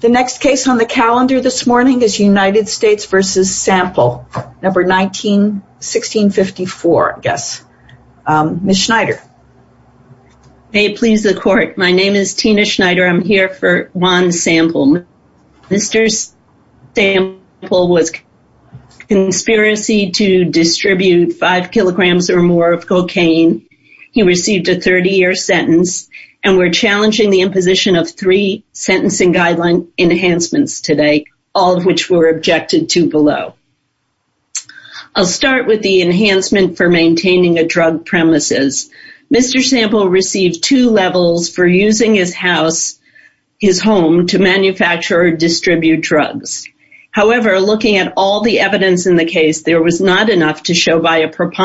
The next case on the calendar this morning is United States v. Sampel, number 19-1654, I guess. Ms. Schneider. May it please the court, my name is Tina Schneider. I'm here for Juan Sampel. Mr. Sampel was conspiracy to distribute five kilograms or more of cocaine. He received a 30-year sentence and we're challenging the imposition of three sentencing guideline enhancements today, all of which were objected to below. I'll start with the enhancement for maintaining a drug premises. Mr. Sampel received two levels for using his house, his home to manufacture or distribute drugs. However, looking at all the evidence in the case, there was not enough to show by a drug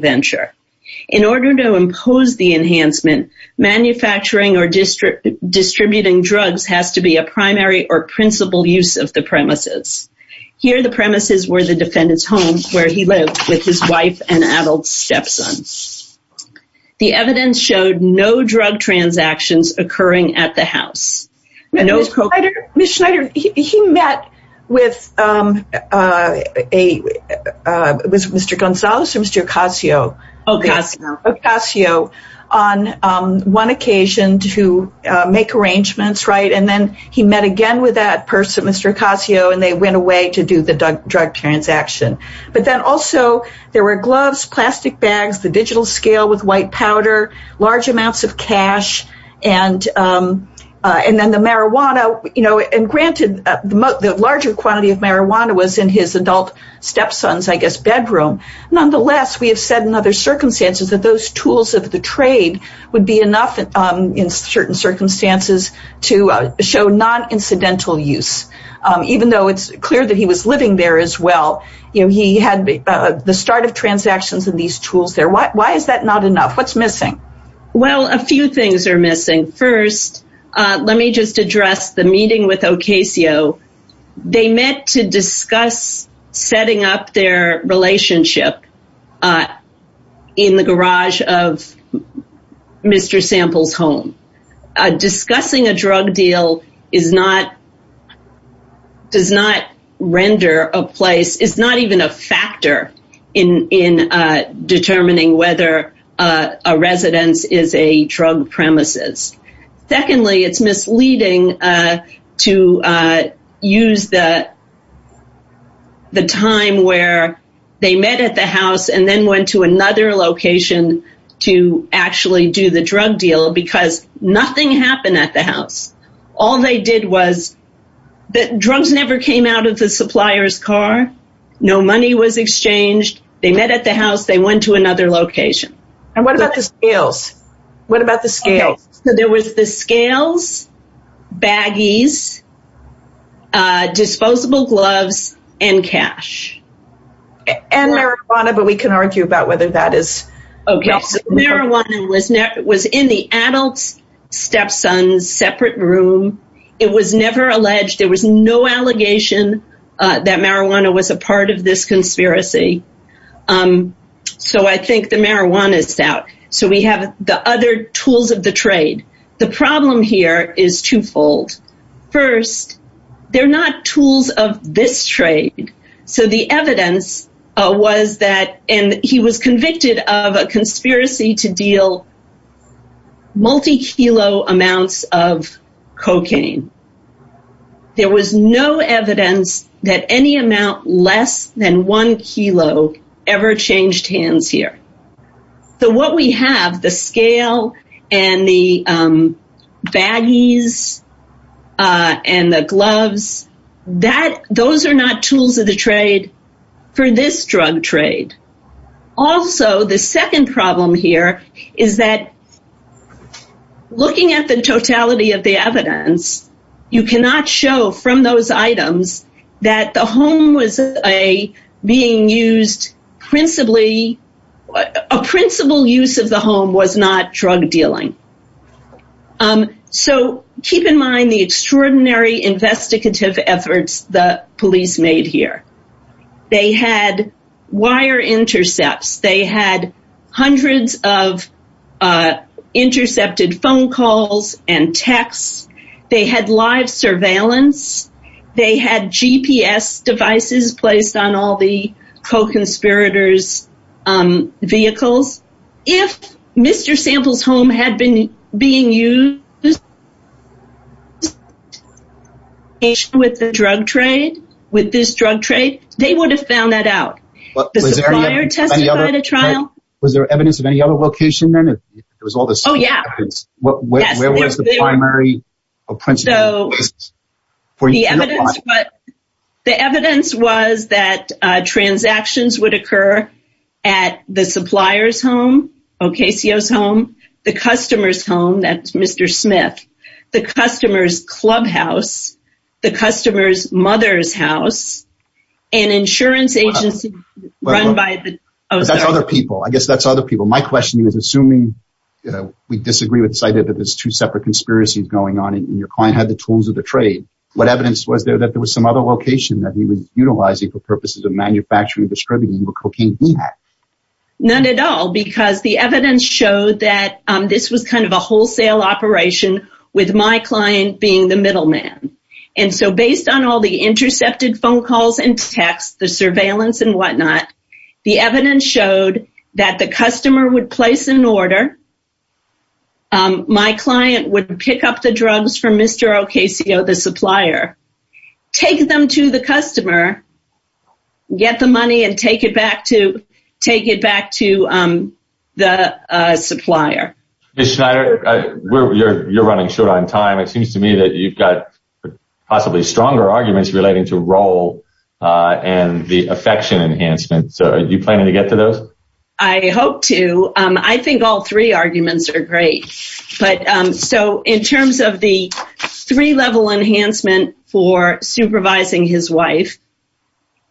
venture. In order to impose the enhancement, manufacturing or distributing drugs has to be a primary or principal use of the premises. Here the premises were the defendant's home where he lived with his wife and adult stepson. The evidence showed no drug transactions occurring at the house. Ms. Schneider, he met with Mr. Gonzales or Mr. Ocasio on one occasion to make arrangements, right? And then he met again with that person, Mr. Ocasio, and they went away to do the drug transaction. But then also there were gloves, plastic bags, the digital scale with white powder, large amounts of cash, and then the marijuana. Granted, the larger quantity of marijuana was in his adult stepson's, I guess, bedroom. Nonetheless, we have said in other circumstances that those tools of the trade would be enough in certain circumstances to show non-incidental use. Even though it's clear that he was living there as well, he had the start of transactions in these tools there. Why is that not enough? What's missing? Well, a few things are missing. First, let me just address the meeting with Ocasio. They met to discuss setting up their relationship in the garage of Mr. Sample's home. Discussing a drug deal does not render a place, is not even a factor in determining whether a residence is a drug premises. Secondly, it's misleading to use the time where they met at the house and then went to another location to actually do the drug deal because nothing happened at the house. All they did was, the drugs never came out of the supplier's car. No money was exchanged. They met at the house. They went to another location. And what about the scales? What about the scales? So there was the scales, baggies, disposable gloves, and cash. And marijuana, but we can argue about whether that is... Okay, so marijuana was in the adult's stepson's separate room. It was never alleged. There was no allegation that marijuana was a part of this conspiracy. So I think the marijuana is out. So we have the other tools of the trade. The problem here is twofold. First, they're not tools of this trade. So the evidence was that, and he was a cocaine. There was no evidence that any amount less than one kilo ever changed hands here. So what we have, the scale and the baggies and the gloves, those are not tools of the trade for this drug trade. Also, the second problem here is that looking at the totality of the evidence, you cannot show from those items that the home was being used principally... A principal use of the home was not drug dealing. So keep in mind the extraordinary investigative efforts the police made here. They had wire intercepts. They had hundreds of live surveillance. They had GPS devices placed on all the co-conspirators' vehicles. If Mr. Sample's home had been being used with the drug trade, with this drug trade, they would have found that out. Was there evidence of any other location then? Oh, yeah. The evidence was that transactions would occur at the supplier's home, Ocasio's home, the customer's home, that's Mr. Smith, the customer's clubhouse, the customer's mother's and insurance agency run by the... But that's other people. I guess that's other people. My question is, assuming we disagree with this idea that there's two separate conspiracies going on and your client had the tools of the trade, what evidence was there that there was some other location that he was utilizing for purposes of manufacturing and distributing the cocaine he had? None at all, because the evidence showed that this was kind of a wholesale operation with my client being the middleman. And so based on all the intercepted phone calls and texts, the surveillance and whatnot, the evidence showed that the customer would place an order. My client would pick up the drugs from Mr. Ocasio, the supplier, take them to the customer, get the money and take it back to the supplier. Ms. Schneider, you're running short on time. It seems to me that you've got possibly stronger arguments relating to role and the affection enhancement. So are you planning to get to those? I hope to. I think all three arguments are great. So in terms of the three-level enhancement for supervising his wife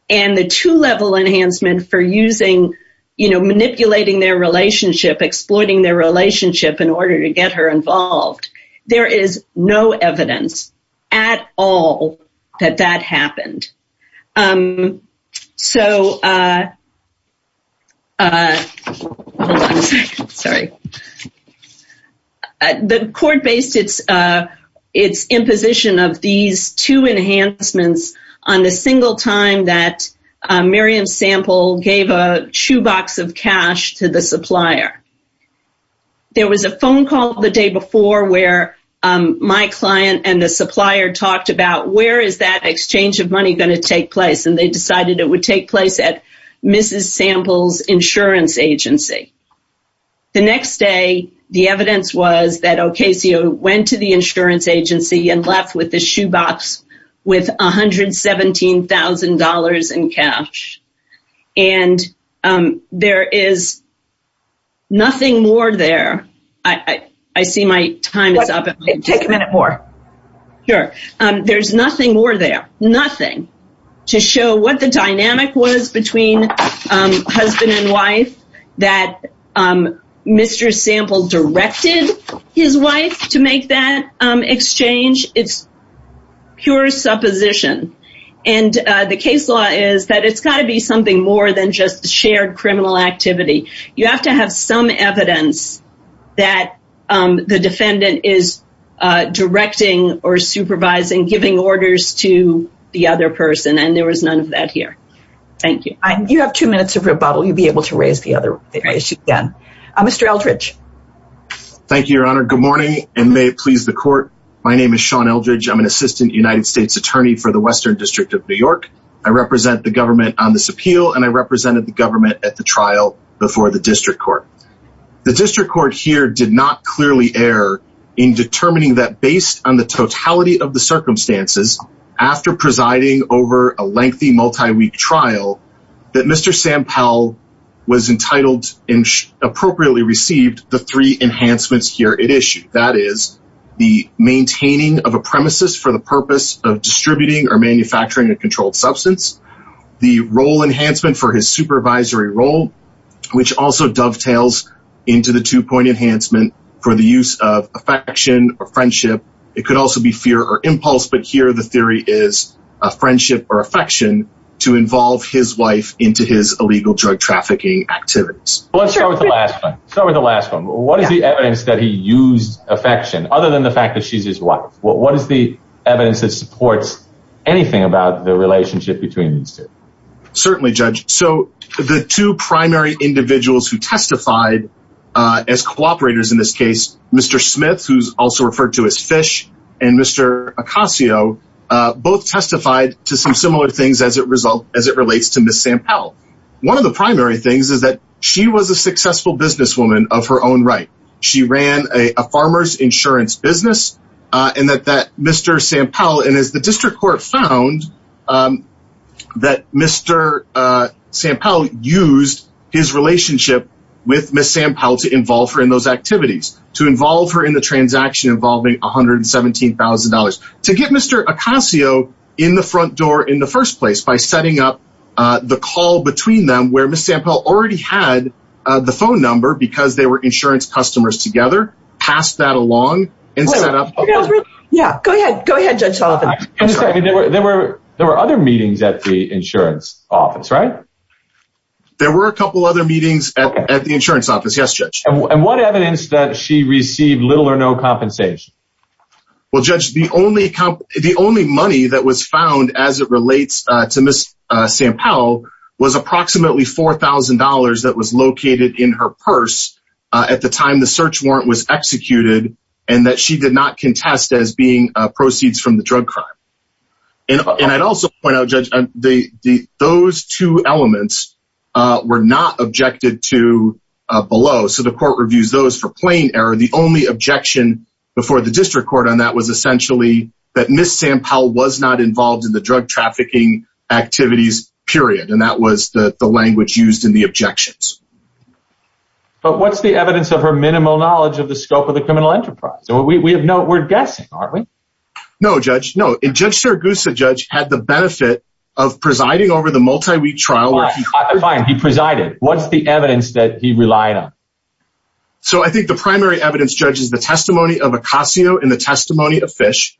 and the two-level enhancement for manipulating their relationship, exploiting their relationship in order to get her involved, there is no evidence at all that that happened. So the court based its imposition of these two enhancements on the single time that there was a phone call the day before where my client and the supplier talked about where is that exchange of money going to take place? And they decided it would take place at Mrs. Sample's insurance agency. The next day, the evidence was that Ocasio went to the insurance agency. There's nothing more there to show what the dynamic was between husband and wife that Mr. Sample directed his wife to make that exchange. It's pure supposition. And the case law is that it's got to be something more than just shared criminal activity. You have to have some evidence that the defendant is directing or supervising, giving orders to the other person. And there was none of that here. Thank you. You have two minutes of rebuttal. You'll be able to raise the other issue again. Mr. Eldridge. Thank you, Your Honor. Good morning and may it please the court. My name is Sean Eldridge. I'm an assistant United States attorney for the Western District of New York. I represent the trial before the district court. The district court here did not clearly err in determining that based on the totality of the circumstances after presiding over a lengthy multi-week trial, that Mr. Sample was entitled and appropriately received the three enhancements here at issue. That is the maintaining of a premises for the purpose of distributing or manufacturing a supervisory role, which also dovetails into the two point enhancement for the use of affection or friendship. It could also be fear or impulse, but here the theory is a friendship or affection to involve his wife into his illegal drug trafficking activities. Let's start with the last one. What is the evidence that he used affection other than the fact that she's his wife? What is the evidence that supports anything about the relationship between these two? Certainly, Judge. So the two primary individuals who testified as cooperators in this case, Mr. Smith, who's also referred to as Fish, and Mr. Acasio, both testified to some similar things as it relates to Miss Sample. One of the primary things is that she was a successful businesswoman of her own right. She ran a farmer's insurance business and that that Mr. Sample and as the district court found that Mr. Sample used his relationship with Miss Sample to involve her in those activities to involve her in the transaction involving $117,000 to get Mr. Acasio in the front door in the first place by setting up the call between them where Miss Sample already had the phone number because they were insurance customers together. Pass that along and set up. Yeah, go ahead. Go ahead. There were there were other meetings at the insurance office, right? There were a couple other meetings at the insurance office. Yes. And what evidence that she received little or no compensation? Well, Judge, the only the only money that was found as it relates to Miss Sample was approximately $4,000 that was located in her purse at the time the search warrant was executed and that she did not contest as being proceeds from the drug crime. And I'd also point out, Judge, the those two elements were not objected to below. So the court reviews those for plain error. The only objection before the district court on that was essentially that Miss Sample was not involved in the drug trafficking activities, period. And that was the language used in the objections. But what's the evidence of her minimal knowledge of the scope of the criminal enterprise? So we have no we're guessing, aren't we? No, Judge. No. And Judge Sergusa, Judge had the benefit of presiding over the multi week trial. He presided. What's the evidence that he relied on? So I think the primary evidence judges the testimony of Acasio in the testimony of fish,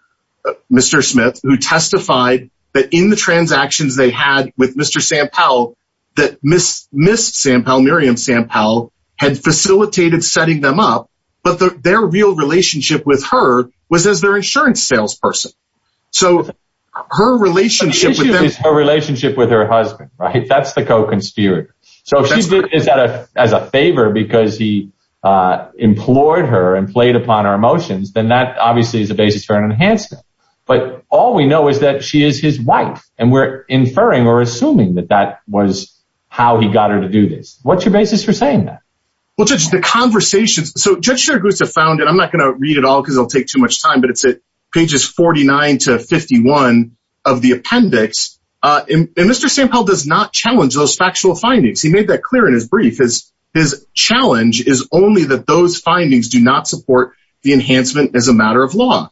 Mr. Smith, who testified that in the transactions they had with Mr. Sam Powell, that Miss Miss Sam Powell, Miriam Sam Powell had facilitated setting them up. But their real relationship with her was as their insurance salesperson. So her relationship with her relationship with her husband, right? That's the co conspirator. So if she did this as a favor, because he implored her and played upon our emotions, then that obviously is a basis for an enhancement. But all we know is that she is his wife. And we're inferring or assuming that that was how he got her to do this. What's your basis for saying that? Well, just the conversations. So Judge Sergusa found it, I'm not going to read it all because it'll take too much time. But it's at pages 49 to 51 of the appendix. And Mr. sample does not challenge those factual findings. He made that clear in his brief is his challenge is only that those findings do not support the enhancement as a matter of law.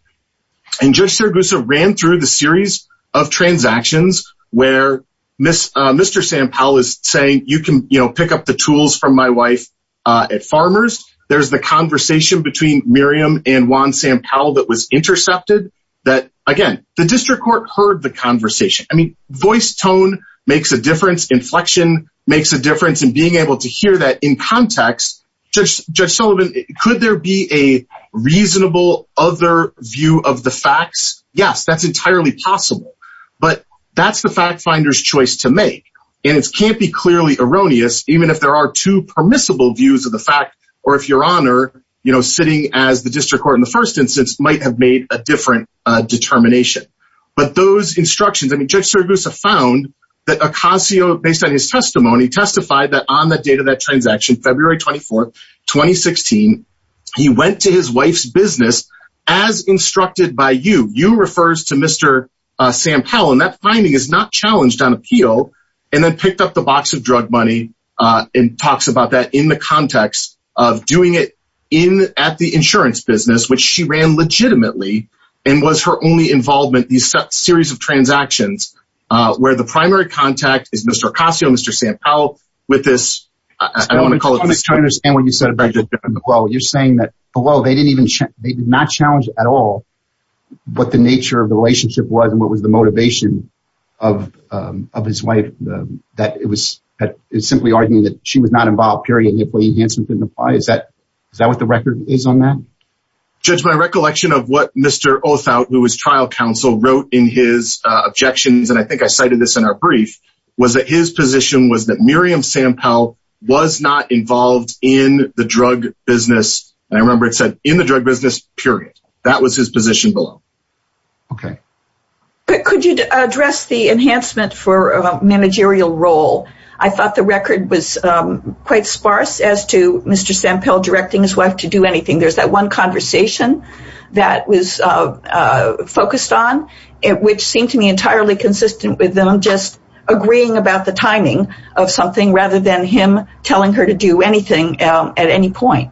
And just Sergusa ran through the series of transactions where Miss Mr. Sam Powell is saying you can you know, pick up the tools from my wife at farmers. There's the conversation between Miriam and Juan Sam Powell that was intercepted that again, the district court heard the conversation. I mean, voice tone makes a difference inflection makes a difference in being able to hear that in context, just Judge Sullivan, could there be a reasonable other view of the facts? Yes, that's entirely possible. But that's the fact finders choice to make. And it can't be clearly erroneous, even if there are two permissible views of the fact, or if your honor, you know, sitting as the district court in the first instance might have made a different determination. But those instructions, I mean, Judge Sergusa found that a concierge based on his testimony testified that on the date of that transaction, February 24 2016. He went to his wife's business, as instructed by you, you refers to Mr. Sam Powell, and that finding is not challenged on appeal, and then picked up the box of drug money, and talks about that in the context of doing it in at the insurance business, which she ran legitimately, and was her only involvement, these series of transactions, where the primary contact is Mr. Casio, Mr. Sam Powell, with this, I don't want to call it this. And when you said about, well, you're saying that, well, they didn't even check, they did not challenge at all, what the nature of the relationship was, and what was the motivation of, of his wife, that it was that is simply arguing that she was not involved, period, is that, is that what the record is on that? Judge, my recollection of what Mr. Othout, who was trial counsel wrote in his objections, and I think I cited this in our brief, was that his position was that Miriam Sam Powell was not involved in the drug business. And I remember it said in the drug business, period, that was his position below. Okay. But could you address the enhancement for a managerial role? I thought the record was quite sparse as to Mr. Sam Powell directing his wife to do anything. There's that one conversation that was focused on it, which seemed to me entirely consistent with them just agreeing about the timing of something rather than him telling her to do anything at any point.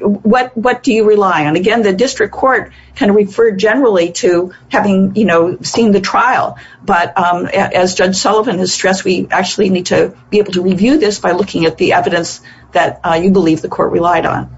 What what do you rely on? Again, the district court can refer generally to having, you know, seen the trial. But as Judge Sullivan has stressed, we actually need to be able to review this by looking at the evidence that you believe the court relied on.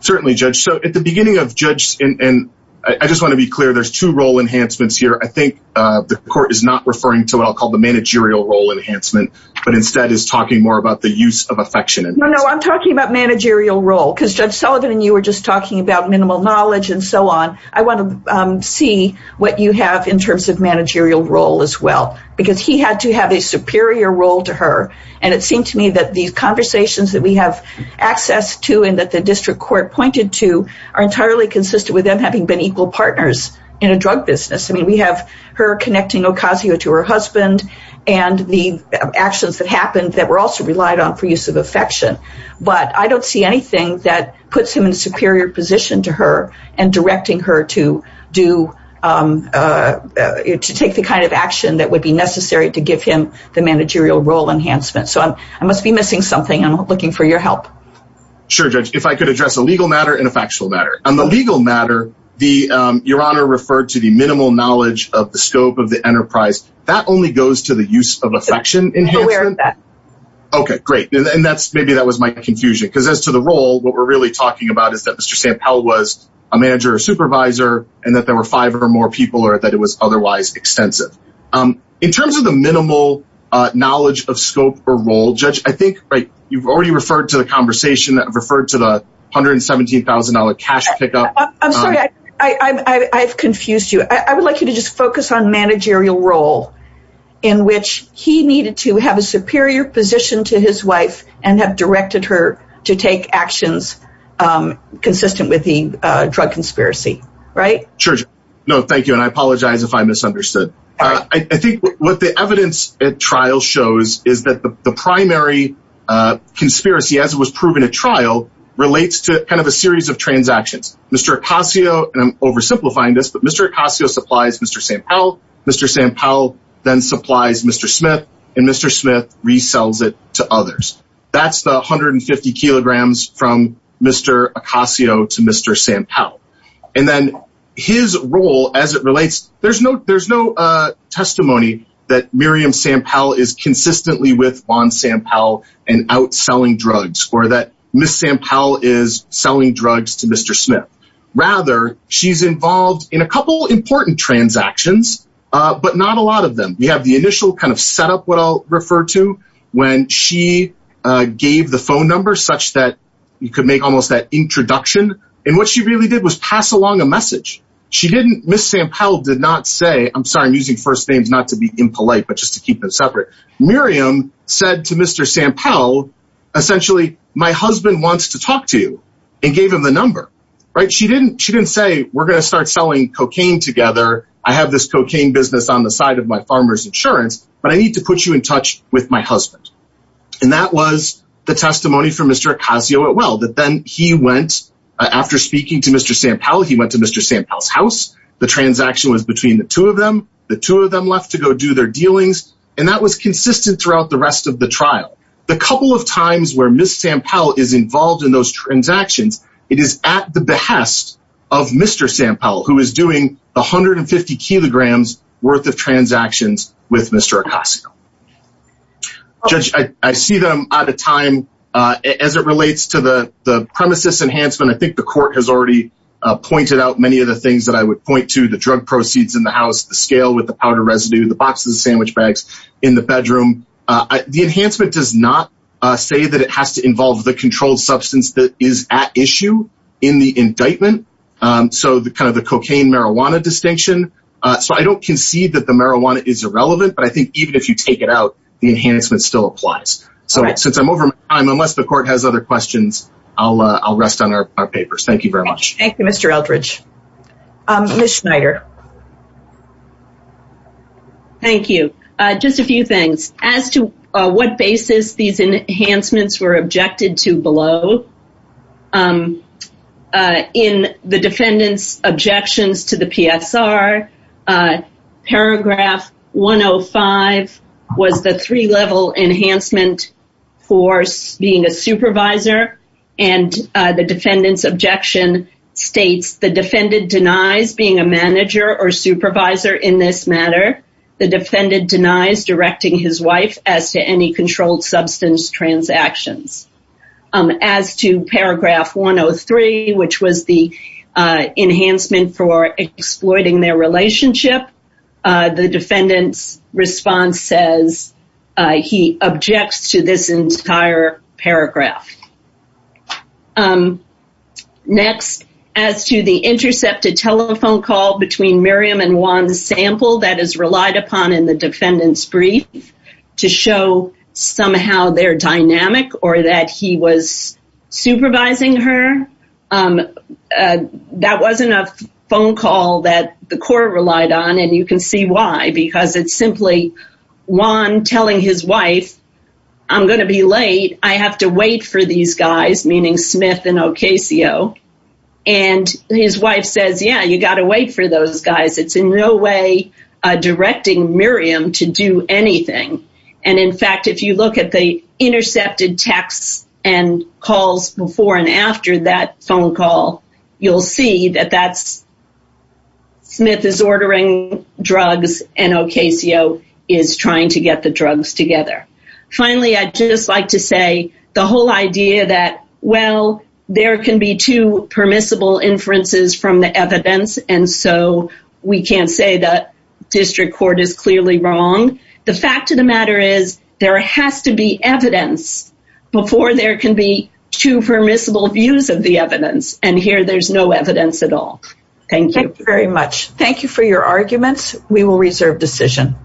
Certainly, Judge. So at the beginning of Judge, and I just want to be clear, there's two role enhancements here. I think the court is not referring to what I'll call the managerial role enhancement, but instead is talking more about the use of affection. No, I'm talking about managerial role, because Judge Sullivan and you were just talking about minimal knowledge and so on. I want to see what you have in terms of managerial role as well, because he had to have a superior role to her. And it seemed to me that these conversations that we have access to and that the district court pointed to are entirely consistent with them having been equal partners in a drug business. I mean, we have her connecting Ocasio to her husband, and the actions that happened that were also relied on for use of affection. But I don't see anything that puts him in a superior position to her and directing her to do um, to take the kind of action that would be necessary to give him the managerial role enhancement. So I must be missing something. I'm looking for your help. Sure, Judge, if I could address a legal matter and a factual matter on the legal matter, the Your Honor referred to the minimal knowledge of the scope of the enterprise that only goes to the use of affection. Okay, great. And that's maybe that was my confusion. Because as to the role, what we're really talking about is that Mr. Sam Pell was a manager or supervisor, and that there were five or more people or that it was otherwise extensive. In terms of the minimal knowledge of scope or role, Judge, I think, right, you've already referred to the conversation that referred to the $117,000 cash pickup. I'm sorry, I've confused you. I would like you to just focus on managerial role, in which he needed to have a superior position to his wife and have directed her to take actions consistent with the drug conspiracy. Right? Sure. No, thank you. And I apologize if I misunderstood. I think what the evidence at trial shows is that the primary conspiracy as it was proven at trial relates to kind of a series of transactions. Mr. Acasio, and I'm oversimplifying this, but Mr. Acasio supplies Mr. Sam Pell, Mr. Sam Pell then supplies Mr. Smith, and Mr. Smith resells it to others. That's the 150 kilograms from Mr. Acasio to Mr. Sam Pell. And then his role as it relates, there's no there's no testimony that Miriam Sam Pell is consistently with Juan Sam Pell and outselling drugs or that Ms. Sam Pell is selling drugs to Mr. Smith. Rather, she's involved in a couple important transactions, but not a lot of them. We have the initial kind of setup what I'll refer to when she gave the phone number such that you could make almost that introduction. And what she really did was pass along a message. She didn't Ms. Sam Pell did not say I'm sorry, I'm using first names not to be impolite, but just to keep it separate. Miriam said to Mr. Sam Pell, essentially, my husband wants to talk to you and gave him the number. Right? She didn't she didn't say we're going to start selling cocaine together. I have this cocaine business on the side of my farmer's insurance, but I need to put you in touch with my husband. And that was the testimony from Mr. Acasio at well that then he went after speaking to Mr. Sam Pell, he went to Mr. Sam Pell's house, the transaction was between the two of them, the two of them left to go do their dealings. And that was consistent throughout the rest of the trial. The couple of times where Ms. Sam Pell is involved in those transactions, it is at the behest of Mr. Sam Pell, who is doing 150 kilograms worth of transactions with Mr. Acasio. Judge, I see them out of time. As it relates to the the premises enhancement, I think the court has already pointed out many of the things that I would point to the drug proceeds in the house, the scale with the powder residue, the boxes, sandwich bags in the bedroom. The enhancement does not say that it has to involve the controlled substance that is at issue in the indictment. So the kind of the cocaine marijuana distinction. So I don't concede that the marijuana is irrelevant. But I think even if you take it out, the enhancement still applies. So since I'm over time, unless the court has other questions, I'll rest on our papers. Thank you very much. Thank you, Mr. Eldridge. Ms. Schneider. Thank you. Just a few things as to what basis these enhancements were objected to below. In the defendant's objections to the PSR, paragraph 105 was the three-level enhancement for being a supervisor. And the defendant's objection states, the defendant denies being a manager or supervisor in this matter. The defendant denies directing his wife as to any 103, which was the enhancement for exploiting their relationship. The defendant's response says he objects to this entire paragraph. Next, as to the intercepted telephone call between Miriam and Juan's sample that is relied upon in defendant's brief to show somehow their dynamic or that he was supervising her. That wasn't a phone call that the court relied on. And you can see why. Because it's simply Juan telling his wife, I'm going to be late. I have to wait for these guys, meaning Smith and to do anything. And in fact, if you look at the intercepted texts and calls before and after that phone call, you'll see that that's Smith is ordering drugs and Ocasio is trying to get the drugs together. Finally, I'd just like to say the whole idea that, well, there can be two permissible inferences from the evidence. And so we can't say that district court is clearly wrong. The fact of the matter is there has to be evidence before there can be two permissible views of the evidence. And here there's no evidence at all. Thank you very much. Thank you for your arguments. We will reserve decision.